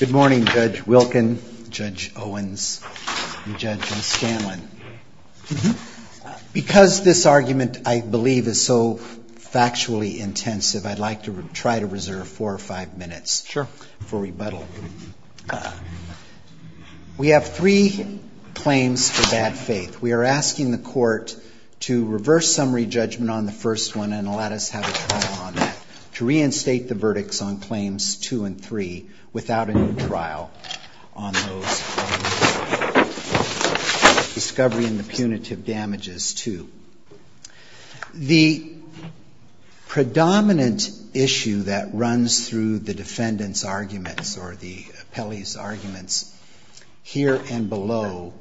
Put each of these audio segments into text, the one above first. Good morning, Judge Wilkin, Judge Owens, and Judge Scanlon. Because this argument, I believe, is so factually intensive, I'd like to try to reserve four or five minutes for rebuttal. We have three claims for bad faith. We are asking the Court to reverse summary judgment on the first one and let us have a trial on that, to reinstate the verdicts on Claims 2 and 3 without a new trial on those on Discovery and the Punitive Damages 2. The predominant issue that runs through the defendant's arguments or the appellee's arguments here and below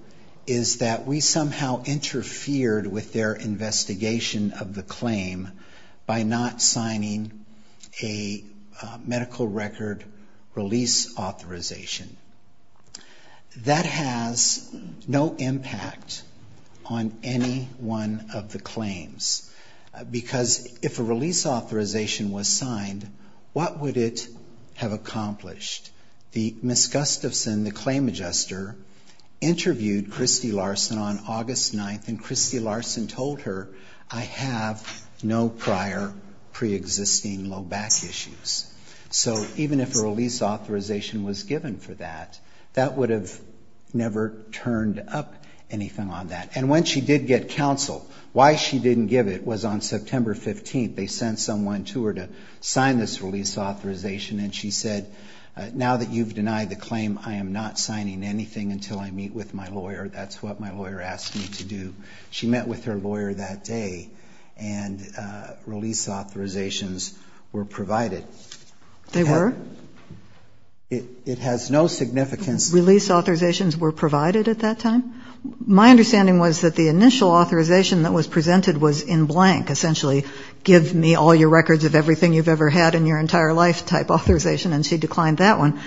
is that we somehow interfered with their investigation of the claim by not signing a medical record release authorization. That has no impact on any one of the claims. Because if a release authorization was signed, what would it have accomplished? Ms. Gustafson, the claim adjuster, interviewed Christy Larson on August 9th, and Christy Larson told her, I have no prior pre-existing low back issues. So even if a release authorization was given for that, that would have never turned up anything on that. And when she did get counsel, why she didn't give it was on September 15th. They sent someone to her to sign this release authorization, and she said, now that you've denied the claim, I am not signing anything until I meet with my lawyer. That's what my lawyer asked me to do. She met with her lawyer that day, and release authorizations were provided. They were? It has no significance. Release authorizations were provided at that time? My understanding was that the initial authorization that was presented was in blank, essentially give me all your records of everything you've ever had in your entire life type authorization, and she declined that one.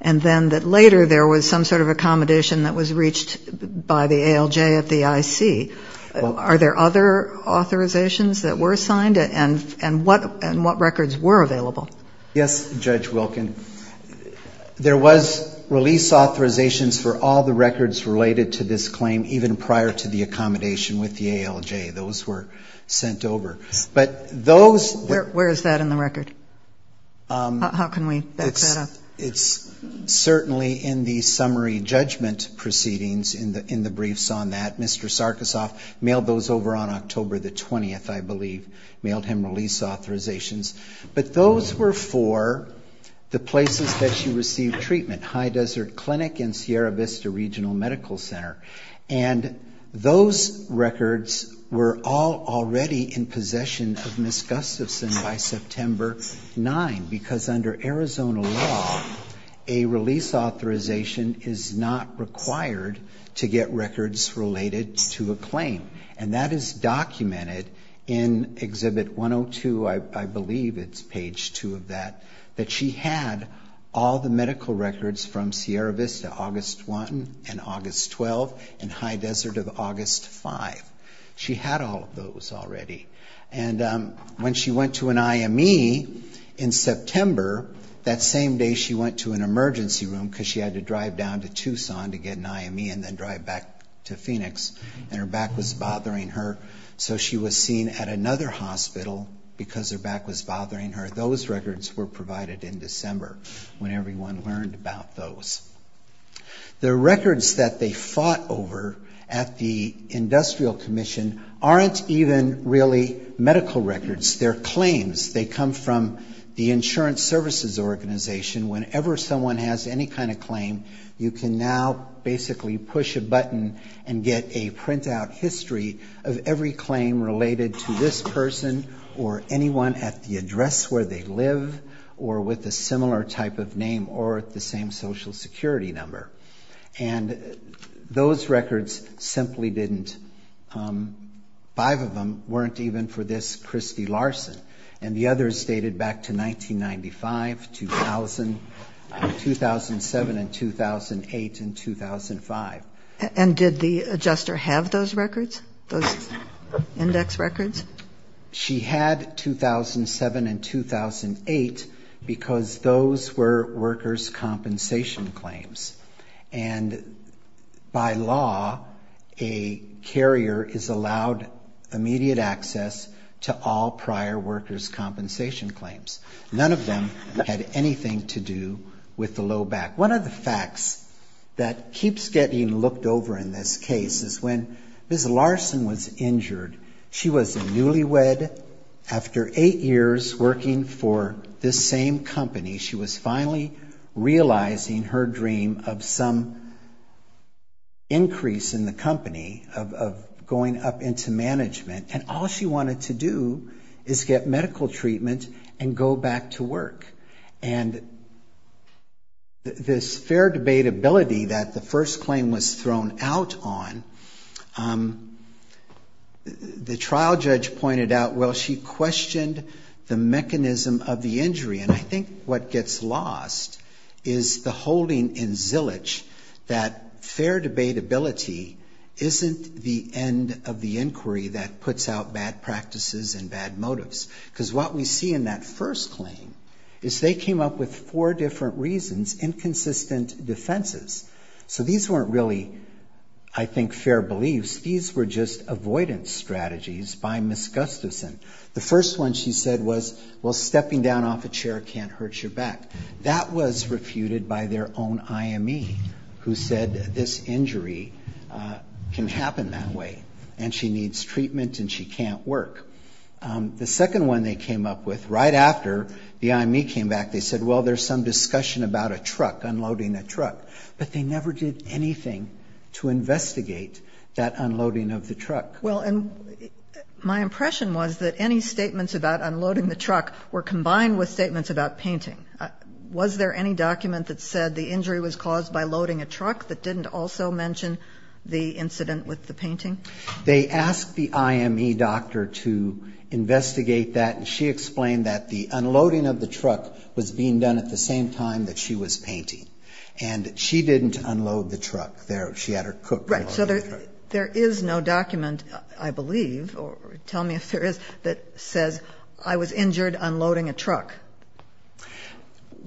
And then that later there was some sort of accommodation that was reached by the ALJ at the IC. Are there other authorizations that were signed, and what records were available? Yes, Judge Wilkin. There was release authorizations for all the records related to this claim, even prior to the accommodation with the ALJ. Those were sent over. Where is that in the record? How can we back that up? It's certainly in the summary judgment proceedings in the briefs on that. Mr. Sarkisoff mailed those over on October the 20th, I believe, mailed him release authorizations. But those were for the places that she received treatment, High Desert Clinic and Sierra Vista Regional Medical Center. And those records were all already in possession of Ms. Gustafson by September 9, because under Arizona law, a release authorization is not required to get records related to a claim. And that is documented in Exhibit 102, I believe it's page two of that, that she had all the medical records from Sierra Vista, August 1 and August 12, and High Desert of August 5. She had all of those already. And when she went to an IME in September, that same day she went to an emergency room because she had to drive down to Tucson to get an IME and then drive back to Phoenix, and her back was bothering her. So she was seen at another hospital because her back was bothering her. Those records were provided in December when everyone learned about those. The records that they fought over at the Industrial Commission aren't even really medical records. They're claims. They come from the Insurance Services Organization. Whenever someone has any kind of claim, you can now basically push a button and get a printout history of every claim related to this person or anyone at the address where they live or with a similar type of name or the same Social Security number. And those records simply didn't, five of them weren't even for this Christy Larson. And the others dated back to 1995, 2000, 2007, and 2008 and 2005. And did the adjuster have those records, those index records? She had 2007 and 2008 because those were workers' compensation claims. And by law, a carrier is allowed immediate access to all prior workers' compensation claims. None of them had anything to do with the low back. One of the facts that keeps getting looked over in this case is when Ms. Larson was injured, she was newlywed. And after eight years working for this same company, she was finally realizing her dream of some increase in the company, of going up into management. And all she wanted to do is get medical treatment and go back to work. And this fair debate ability that the first claim was thrown out on, the trial judge pointed out, well, she questioned the mechanism of the injury. And I think what gets lost is the holding in zillage that fair debate ability isn't the end of the inquiry that puts out bad practices and bad motives. Because what we see in that first claim is they came up with four different reasons, inconsistent defenses. So these weren't really, I think, fair beliefs. These were just avoidance strategies by Ms. Gustafson. The first one she said was, well, stepping down off a chair can't hurt your back. That was refuted by their own IME who said this injury can happen that way and she needs treatment and she can't work. The second one they came up with right after the IME came back, they said, well, there's some discussion about a truck, unloading a truck. But they never did anything to investigate that unloading of the truck. Well, and my impression was that any statements about unloading the truck were combined with statements about painting. Was there any document that said the injury was caused by loading a truck that didn't also mention the incident with the painting? They asked the IME doctor to investigate that, and she explained that the unloading of the truck was being done at the same time that she was painting. And she didn't unload the truck. She had her cook unloading the truck. Right, so there is no document, I believe, or tell me if there is, that says I was injured unloading a truck,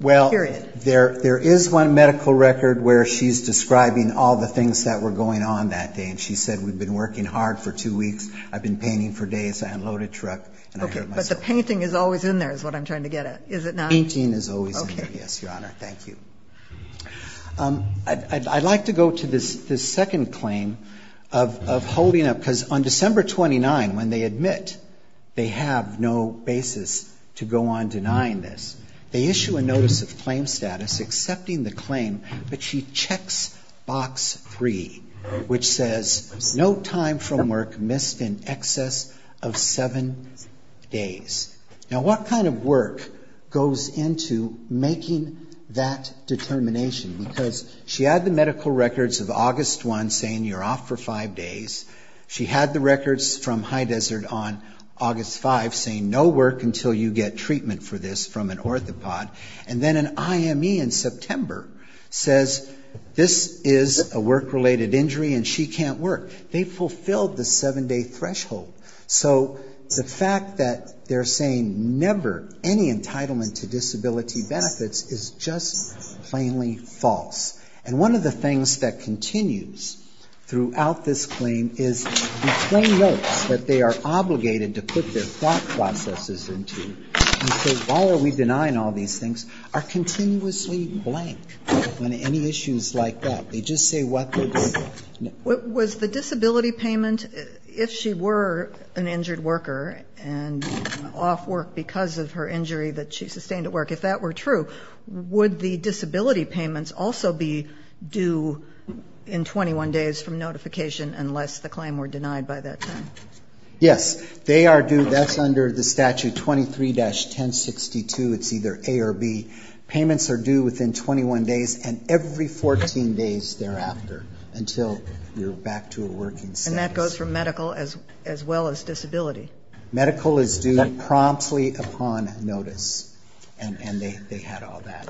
period. Well, there is one medical record where she's describing all the things that were going on that day and she said we'd been working hard for two weeks, I'd been painting for days, I unloaded a truck, and I hurt myself. Okay, but the painting is always in there is what I'm trying to get at, is it not? The painting is always in there, yes, Your Honor. Thank you. I'd like to go to this second claim of holding up, because on December 29, when they admit they have no basis to go on denying this, they issue a notice of claim status accepting the claim, but she checks Box 3, which says no time from work missed in excess of seven days. Now, what kind of work goes into making that determination? Because she had the medical records of August 1 saying you're off for five days. She had the records from High Desert on August 5 saying no work until you get treatment for this from an orthopod. And then an IME in September says this is a work-related injury and she can't work. They fulfilled the seven-day threshold. So the fact that they're saying never any entitlement to disability benefits is just plainly false. And one of the things that continues throughout this claim is the plain notes that they are obligated to put their thought processes into and say why are we denying all these things are continuously blank on any issues like that. They just say what they're doing. Was the disability payment, if she were an injured worker and off work because of her injury that she sustained at work, if that were true, would the disability payments also be due in 21 days from notification unless the claim were denied by that time? Yes, they are due. That's under the statute 23-1062. It's either A or B. Payments are due within 21 days and every 14 days thereafter until you're back to a working status. And that goes for medical as well as disability. Medical is due promptly upon notice. And they had all that.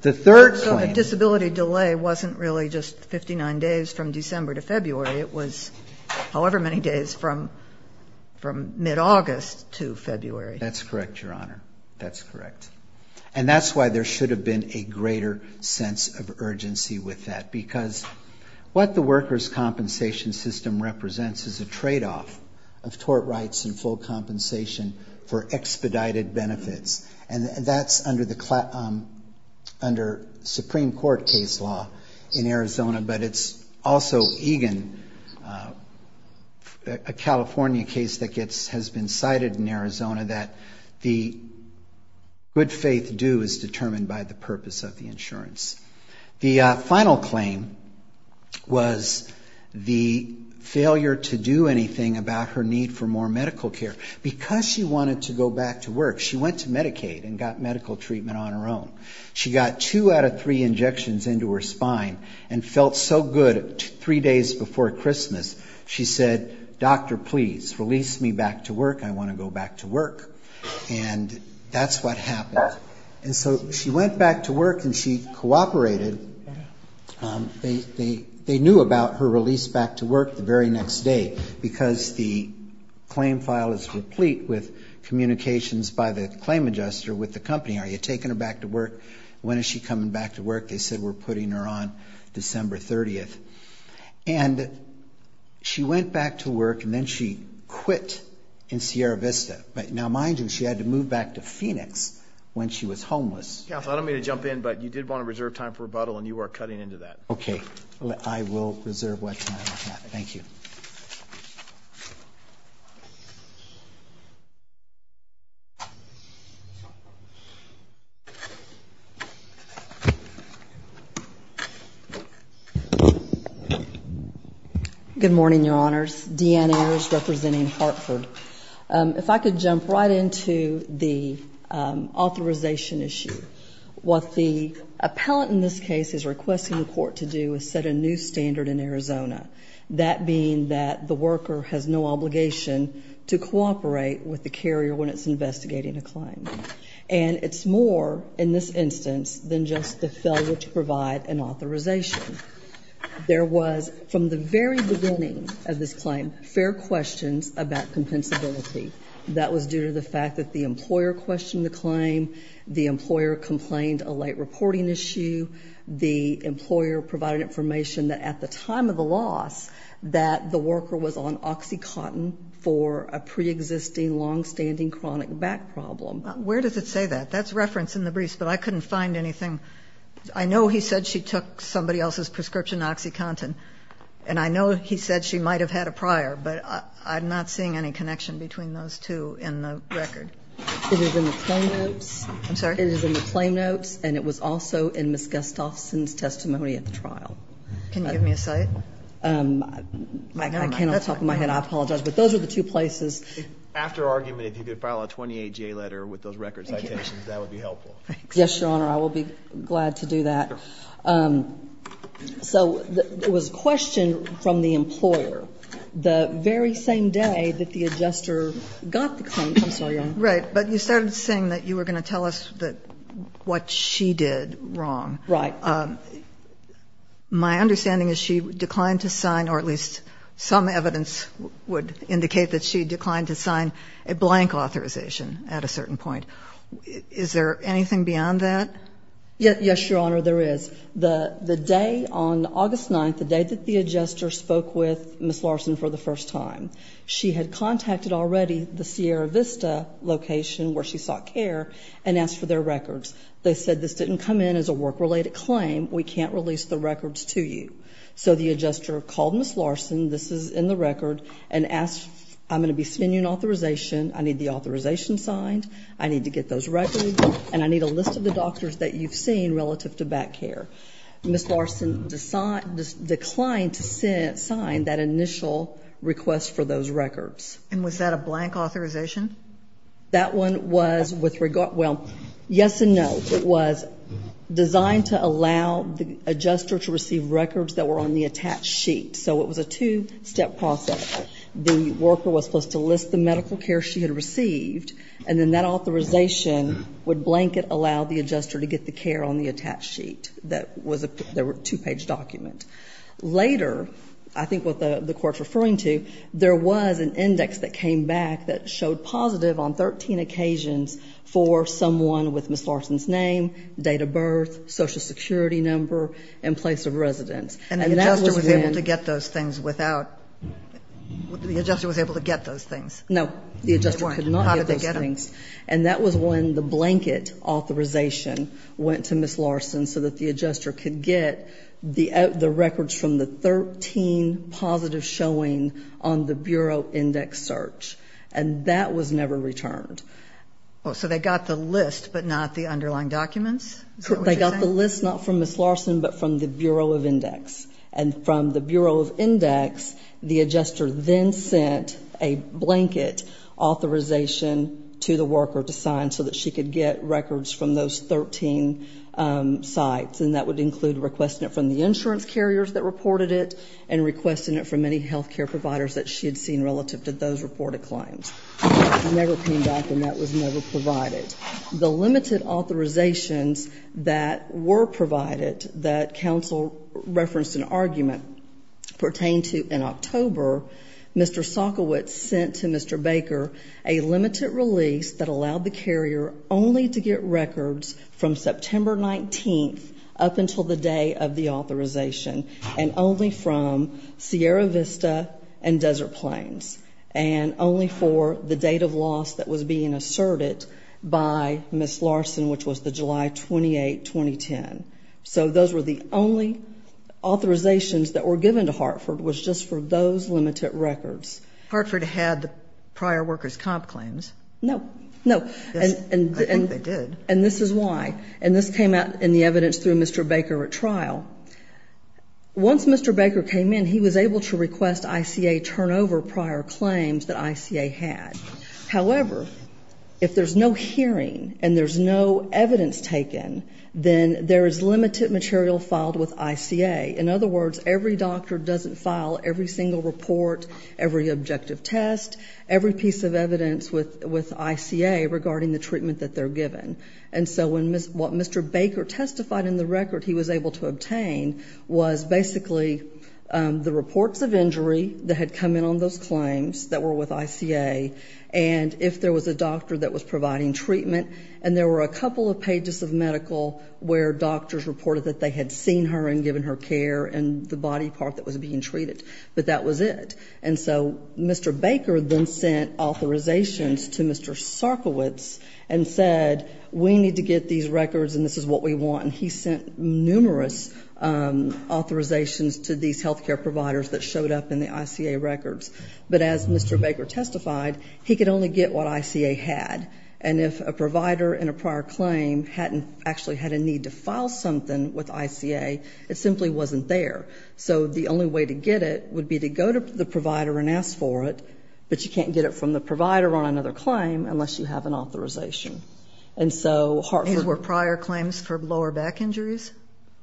The third claim. So the disability delay wasn't really just 59 days from December to February. It was however many days from mid-August to February. That's correct, Your Honor. That's correct. And that's why there should have been a greater sense of urgency with that because what the workers' compensation system represents is a tradeoff of tort rights and full compensation for expedited benefits. And that's under Supreme Court case law in Arizona, but it's also EGAN, a California case that has been cited in Arizona, that the good faith due is determined by the purpose of the insurance. The final claim was the failure to do anything about her need for more medical care. Because she wanted to go back to work, she went to Medicaid and got medical treatment on her own. She got two out of three injections into her spine and felt so good three days before Christmas, she said, Doctor, please release me back to work. I want to go back to work. And that's what happened. And so she went back to work and she cooperated. They knew about her release back to work the very next day because the claim file is replete with communications by the claim adjuster with the company. Are you taking her back to work? When is she coming back to work? They said we're putting her on December 30th. And she went back to work and then she quit in Sierra Vista. Now, mind you, she had to move back to Phoenix when she was homeless. I don't mean to jump in, but you did want to reserve time for rebuttal and you are cutting into that. Okay, I will reserve what time I have. Thank you. Good morning, Your Honors. Deanna Ayers representing Hartford. If I could jump right into the authorization issue. What the appellant in this case is requesting the court to do is set a new standard in Arizona, that being that the worker has no obligation to cooperate with the carrier when it's investigating a claim. And it's more, in this instance, than just the failure to provide an authorization. There was, from the very beginning of this claim, fair questions about compensability. That was due to the fact that the employer questioned the claim, the employer complained a late reporting issue, the employer provided information that at the time of the loss that the worker was on OxyContin for a pre-existing long-standing chronic back problem. Where does it say that? That's referenced in the briefs, but I couldn't find anything. I know he said she took somebody else's prescription, OxyContin, and I know he said she might have had a prior, but I'm not seeing any connection between those two in the record. It is in the claim notes. I'm sorry? It is in the claim notes, and it was also in Ms. Gustafson's testimony at the trial. Can you give me a cite? I cannot talk in my head. I apologize, but those are the two places. After argument, if you could file a 28-J letter with those record citations, that would be helpful. Yes, Your Honor. I will be glad to do that. So there was a question from the employer the very same day that the adjuster got the claim. I'm sorry, Your Honor. Right. But you started saying that you were going to tell us what she did wrong. Right. My understanding is she declined to sign, or at least some evidence would indicate that she declined to sign, a blank authorization at a certain point. Is there anything beyond that? Yes, Your Honor, there is. The day on August 9th, the day that the adjuster spoke with Ms. Larson for the first time, she had contacted already the Sierra Vista location where she sought care and asked for their records. They said this didn't come in as a work-related claim. We can't release the records to you. So the adjuster called Ms. Larson, this is in the record, and asked, I'm going to be sending you an authorization. I need the authorization signed. I need to get those records, and I need a list of the doctors that you've seen relative to back care. Ms. Larson declined to sign that initial request for those records. And was that a blank authorization? That one was with regard, well, yes and no. It was designed to allow the adjuster to receive records that were on the attached sheet. So it was a two-step process. The worker was supposed to list the medical care she had received, and then that authorization would blanket allow the adjuster to get the care on the attached sheet. That was a two-page document. Later, I think what the Court's referring to, there was an index that came back that showed positive on 13 occasions for someone with Ms. Larson's name, date of birth, social security number, and place of residence. And the adjuster was able to get those things without, the adjuster was able to get those things? No, the adjuster could not get those things. How did they get them? And that was when the blanket authorization went to Ms. Larson so that the index search. And that was never returned. So they got the list but not the underlying documents? They got the list not from Ms. Larson but from the Bureau of Index. And from the Bureau of Index, the adjuster then sent a blanket authorization to the worker to sign so that she could get records from those 13 sites. And that would include requesting it from the insurance carriers that reported it and requesting it from any health care providers that she had seen relative to those reported claims. It never came back and that was never provided. The limited authorizations that were provided that counsel referenced in argument pertain to in October, Mr. Sokowitz sent to Mr. Baker a limited release that allowed the carrier only to get records from September 19th up until the day of the authorization and only from Sierra Vista and Desert Plains. And only for the date of loss that was being asserted by Ms. Larson, which was the July 28, 2010. So those were the only authorizations that were given to Hartford was just for those limited records. Hartford had the prior workers' comp claims. No. No. I think they did. And this is why. And this came out in the evidence through Mr. Baker at trial. Once Mr. Baker came in, he was able to request ICA turnover prior claims that ICA had. However, if there's no hearing and there's no evidence taken, then there is limited material filed with ICA. In other words, every doctor doesn't file every single report, every objective test, every piece of evidence with ICA regarding the treatment that they're given. And so what Mr. Baker testified in the record he was able to obtain was basically the reports of injury that had come in on those claims that were with ICA and if there was a doctor that was providing treatment. And there were a couple of pages of medical where doctors reported that they had seen her and given her care and the body part that was being treated. But that was it. And so Mr. Baker then sent authorizations to Mr. Sarkowitz and said, we need to get these records and this is what we want. And he sent numerous authorizations to these healthcare providers that showed up in the ICA records. But as Mr. Baker testified, he could only get what ICA had. And if a provider in a prior claim hadn't actually had a need to file something with ICA, it simply wasn't there. So the only way to get it would be to go to the provider and ask for it, but you can't get it from the provider on another claim unless you have an authorization. And so Hartford. These were prior claims for lower back injuries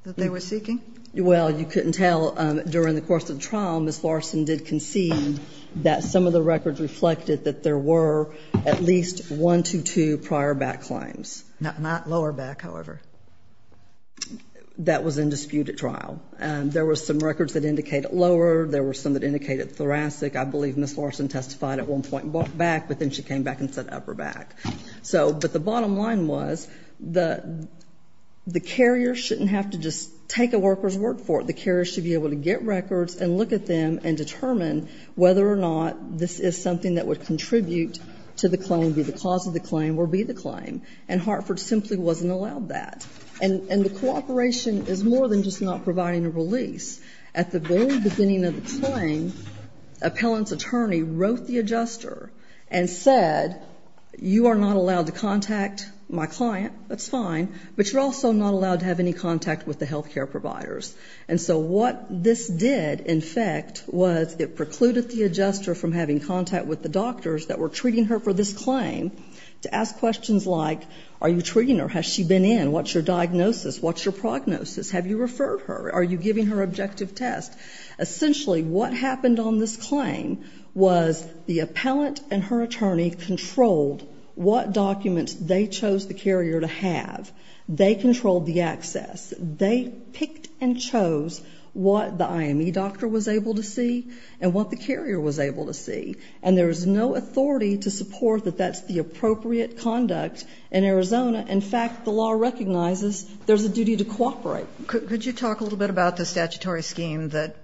that they were seeking? Well, you couldn't tell during the course of the trial, Ms. Larson did concede that some of the records reflected that there were at least one to two prior back claims. Not lower back, however. That was in dispute at trial. There were some records that indicated lower. There were some that indicated thoracic. I believe Ms. Larson testified at one point back, but then she came back and said upper back. But the bottom line was the carrier shouldn't have to just take a worker's word for it. The carrier should be able to get records and look at them and determine whether or not this is something that would contribute to the claim, be the cause of the claim, or be the claim. And Hartford simply wasn't allowed that. And the cooperation is more than just not providing a release. At the very beginning of the claim, appellant's attorney wrote the adjuster and said you are not allowed to contact my client, that's fine, but you're also not allowed to have any contact with the health care providers. And so what this did, in fact, was it precluded the adjuster from having contact with the doctors that were treating her for this claim to ask questions like, are you treating her? Has she been in? What's your diagnosis? What's your prognosis? Have you referred her? Are you giving her objective tests? Essentially, what happened on this claim was the appellant and her attorney controlled what documents they chose the carrier to have. They controlled the access. They picked and chose what the IME doctor was able to see and what the carrier was able to see. And there was no authority to support that that's the appropriate conduct in Arizona. In fact, the law recognizes there's a duty to cooperate. Could you talk a little bit about the statutory scheme that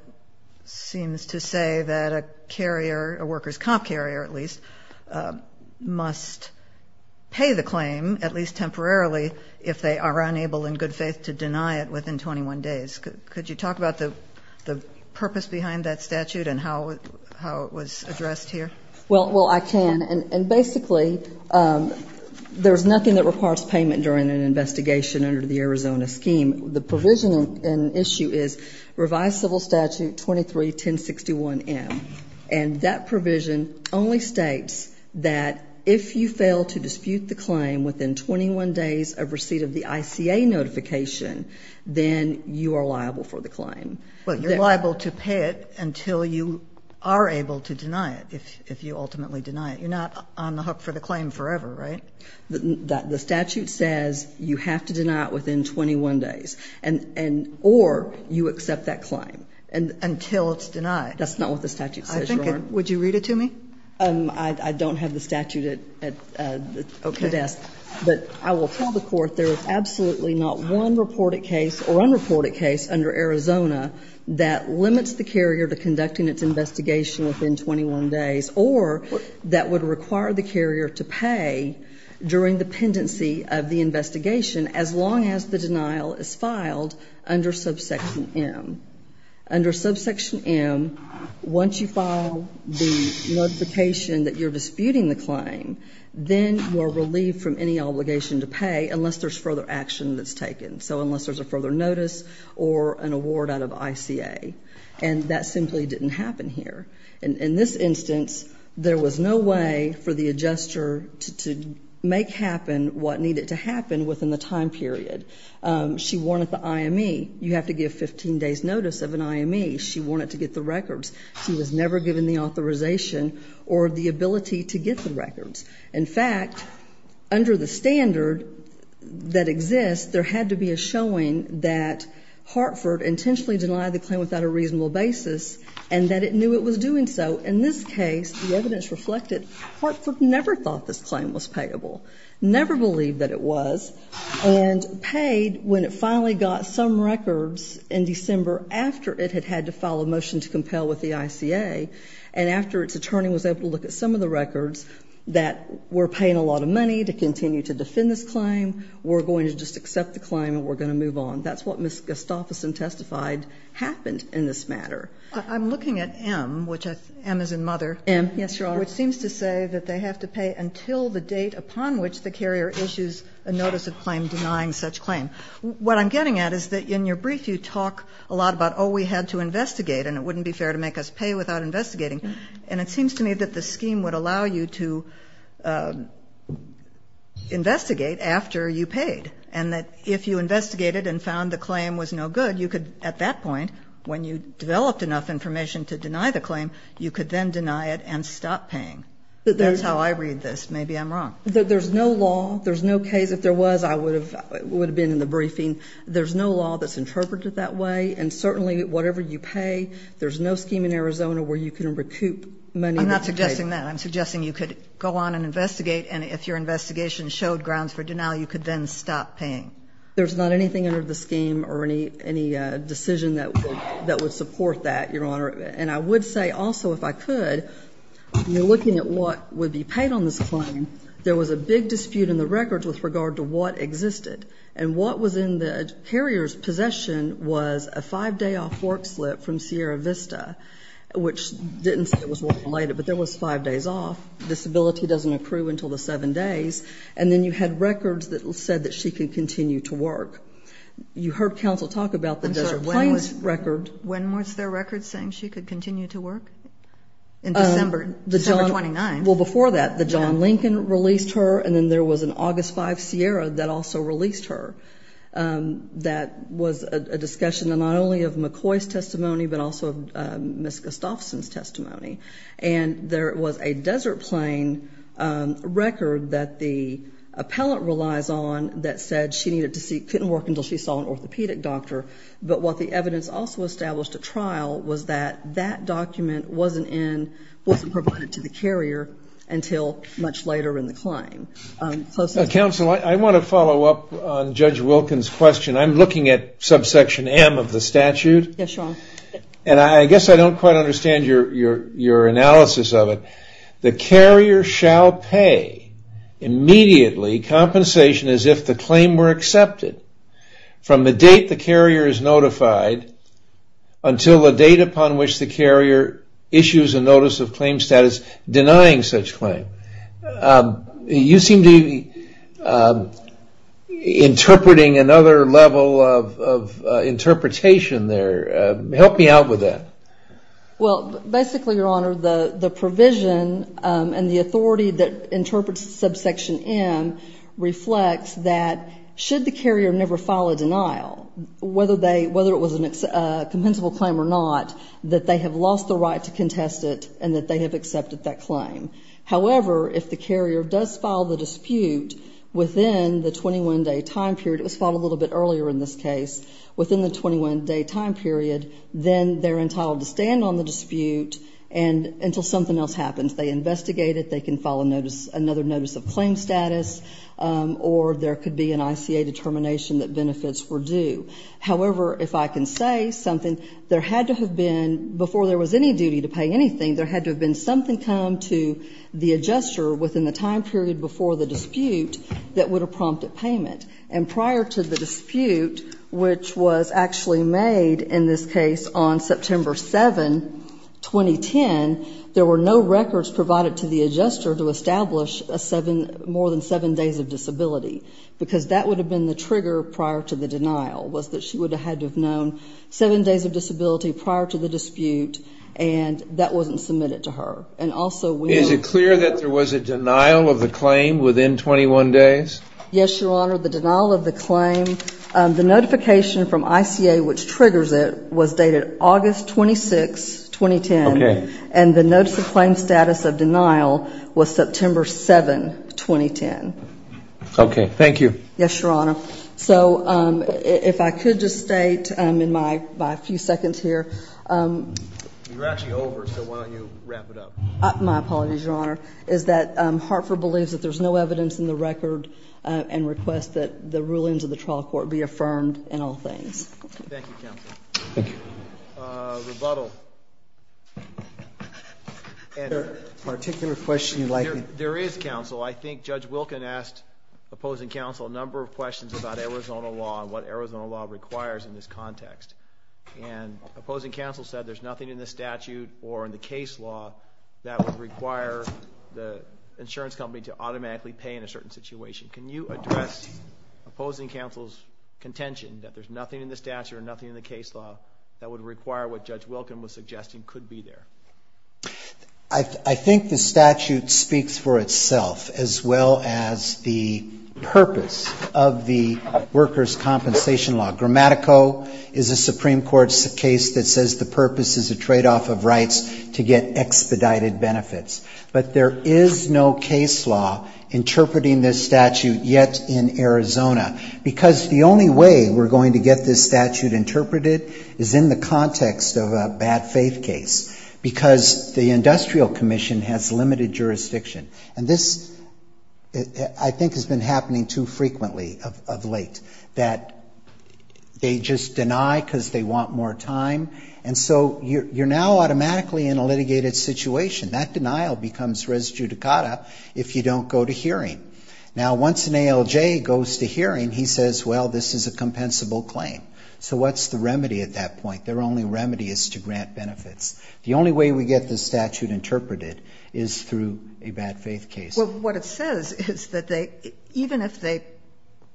seems to say that a carrier, a workers' comp carrier at least, must pay the claim, at least temporarily, if they are unable in good faith to deny it within 21 days? Could you talk about the purpose behind that statute and how it was addressed here? Well, I can. And basically there's nothing that requires payment during an investigation under the Arizona scheme. The provision in issue is revised civil statute 23-1061M. And that provision only states that if you fail to dispute the claim within 21 days of receipt of the ICA notification, then you are liable for the claim. Well, you're liable to pay it until you are able to deny it, if you ultimately deny it. You're not on the hook for the claim forever, right? The statute says you have to deny it within 21 days, or you accept that claim. Until it's denied. That's not what the statute says, Your Honor. Would you read it to me? I don't have the statute at the desk. But I will tell the Court there is absolutely not one reported case or unreported case under Arizona that limits the carrier to conducting its investigation within 21 days or that would require the carrier to pay during the pendency of the investigation as long as the denial is filed under subsection M. Under subsection M, once you file the notification that you're disputing the claim, then you are relieved from any obligation to pay unless there's further action that's taken. So unless there's a further notice or an award out of ICA. And that simply didn't happen here. In this instance, there was no way for the adjuster to make happen what needed to happen within the time period. She wanted the IME. You have to give 15 days' notice of an IME. She wanted to get the records. She was never given the authorization or the ability to get the records. In fact, under the standard that exists, there had to be a showing that Hartford intentionally denied the claim without a reasonable basis and that it knew it was doing so. In this case, the evidence reflected Hartford never thought this claim was payable, never believed that it was, and paid when it finally got some records in December after it had had to file a motion to compel with the ICA and after its attorney was able to look at some of the records that we're paying a lot of money to continue to defend this claim, we're going to just accept the claim, and we're going to move on. That's what Ms. Gustafson testified happened in this matter. I'm looking at M, which M as in mother. M, yes, Your Honor. Which seems to say that they have to pay until the date upon which the carrier issues a notice of claim denying such claim. What I'm getting at is that in your brief you talk a lot about, oh, we had to investigate, and it wouldn't be fair to make us pay without investigating. And it seems to me that the scheme would allow you to investigate after you paid, and that if you investigated and found the claim was no good, you could at that point, when you developed enough information to deny the claim, you could then deny it and stop paying. That's how I read this. Maybe I'm wrong. There's no law, there's no case. If there was, I would have been in the briefing. There's no law that's interpreted that way, and certainly whatever you pay, there's no scheme in Arizona where you can recoup money that's paid. I'm not suggesting that. I'm suggesting you could go on and investigate, and if your investigation showed grounds for denial, you could then stop paying. There's not anything under the scheme or any decision that would support that, Your Honor. And I would say also if I could, looking at what would be paid on this claim, there was a big dispute in the records with regard to what existed. And what was in the carrier's possession was a 5-day-off work slip from Sierra Vista, which didn't say it was work-related, but there was 5 days off. Disability doesn't accrue until the 7 days. And then you had records that said that she could continue to work. You heard counsel talk about the Desert Plains record. When was there records saying she could continue to work? In December, December 29. Well, before that, the John Lincoln released her, and then there was an August 5 Sierra that also released her. That was a discussion not only of McCoy's testimony, but also of Ms. Gustafson's testimony. And there was a Desert Plain record that the appellant relies on that said she couldn't work until she saw an orthopedic doctor. But what the evidence also established at trial was that that document wasn't provided to the carrier until much later in the claim. Counsel, I want to follow up on Judge Wilkins' question. I'm looking at subsection M of the statute. Yes, Your Honor. And I guess I don't quite understand your analysis of it. The carrier shall pay immediately compensation as if the claim were accepted from the date the carrier is notified until the date upon which the carrier issues a notice of claim status denying such claim. You seem to be interpreting another level of interpretation there. Help me out with that. Well, basically, Your Honor, the provision and the authority that interprets subsection M reflects that should the carrier never file a denial, whether it was a compensable claim or not, that they have lost the right to contest it and that they have accepted that however, if the carrier does file the dispute within the 21-day time period, it was filed a little bit earlier in this case, within the 21-day time period, then they're entitled to stand on the dispute until something else happens. They investigate it. They can file another notice of claim status, or there could be an ICA determination that benefits were due. However, if I can say something, there had to have been, before there was any duty to pay anything, there had to have been something come to the adjuster within the time period before the dispute that would have prompted payment. And prior to the dispute, which was actually made in this case on September 7, 2010, there were no records provided to the adjuster to establish more than seven days of disability, because that would have been the trigger prior to the denial, was that she would have had to have known seven days of disability prior to the Is it clear that there was a denial of the claim within 21 days? Yes, Your Honor. The denial of the claim, the notification from ICA which triggers it, was dated August 26, 2010. Okay. And the notice of claim status of denial was September 7, 2010. Okay. Thank you. Yes, Your Honor. So if I could just state in my few seconds here. You're actually over, so why don't you wrap it up. My apologies, Your Honor. It's that Hartford believes that there's no evidence in the record and requests that the rulings of the trial court be affirmed in all things. Thank you, counsel. Thank you. Rebuttal. Is there a particular question you'd like to? There is, counsel. I think Judge Wilkin asked opposing counsel a number of questions about Arizona law and what Arizona law requires in this context. And opposing counsel said there's nothing in the statute or in the case law that would require the insurance company to automatically pay in a certain situation. Can you address opposing counsel's contention that there's nothing in the statute or nothing in the case law that would require what Judge Wilkin was suggesting could be there? I think the statute speaks for itself, as well as the purpose of the workers' compensation law. Grammatico is a Supreme Court case that says the purpose is a tradeoff of rights to get expedited benefits. But there is no case law interpreting this statute yet in Arizona because the only way we're going to get this statute interpreted is in the context of a bad faith case because the industrial commission has limited jurisdiction. And this, I think, has been happening too frequently of late, that they just deny because they want more time. And so you're now automatically in a litigated situation. That denial becomes res judicata if you don't go to hearing. Now, once an ALJ goes to hearing, he says, well, this is a compensable claim. So what's the remedy at that point? Their only remedy is to grant benefits. The only way we get this statute interpreted is through a bad faith case. Well, what it says is that even if they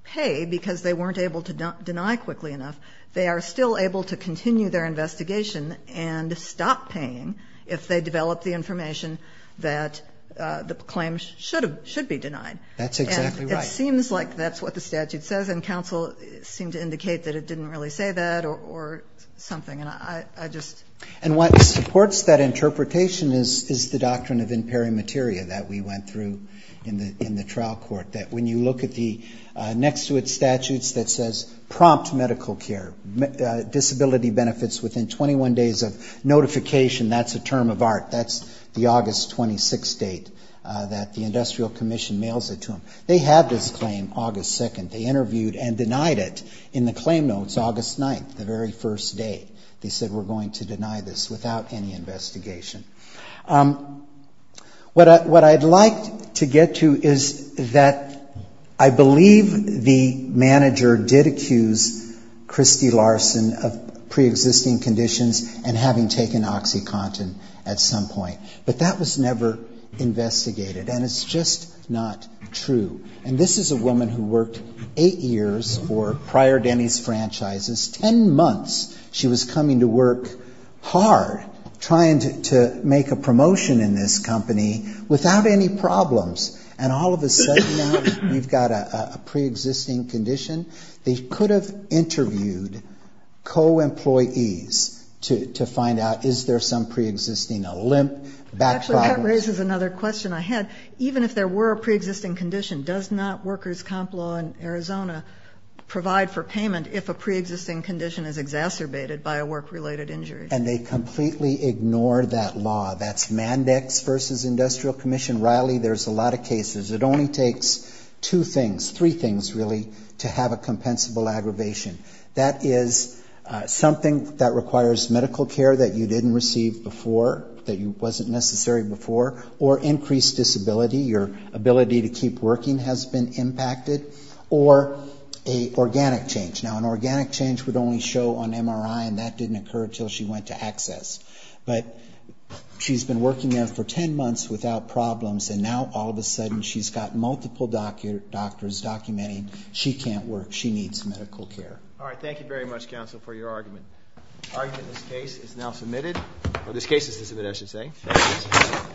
pay because they weren't able to deny quickly enough, they are still able to continue their investigation and stop paying if they develop the information that the claim should be denied. That's exactly right. And it seems like that's what the statute says, and counsel seemed to indicate that it didn't really say that or something. And I just... And what supports that interpretation is the doctrine of imperi materia that we went through in the trial court, that when you look at the next to it statutes that says prompt medical care, disability benefits within 21 days of notification, that's a term of art. That's the August 26th date that the industrial commission mails it to them. They have this claim August 2nd. They interviewed and denied it in the claim notes August 9th, the very first day. They said we're going to deny this without any investigation. What I'd like to get to is that I believe the manager did accuse Christy Larson of preexisting conditions and having taken OxyContin at some point. But that was never investigated, and it's just not true. And this is a woman who worked eight years for Prior Denny's Franchises. Ten months she was coming to work hard, trying to make a promotion in this company without any problems. And all of a sudden now we've got a preexisting condition. They could have interviewed co-employees to find out, is there some preexisting, a limp, back problem. Actually, that raises another question I had. Even if there were a preexisting condition, does not workers' comp law in Arizona provide for payment if a preexisting condition is exacerbated by a work-related injury? And they completely ignore that law. That's Mandex v. Industrial Commission. Riley, there's a lot of cases. It only takes two things, three things really, to have a compensable aggravation. That is something that requires medical care that you didn't receive before, that wasn't necessary before, or increased disability, your ability to keep working has been impacted, or an organic change. Now, an organic change would only show on MRI, and that didn't occur until she went to access. But she's been working there for ten months without problems, and now all of a sudden she's got multiple doctors documenting she can't work, she needs medical care. All right, thank you very much, counsel, for your argument. The argument in this case is now submitted. Or this case is to submit, I should say.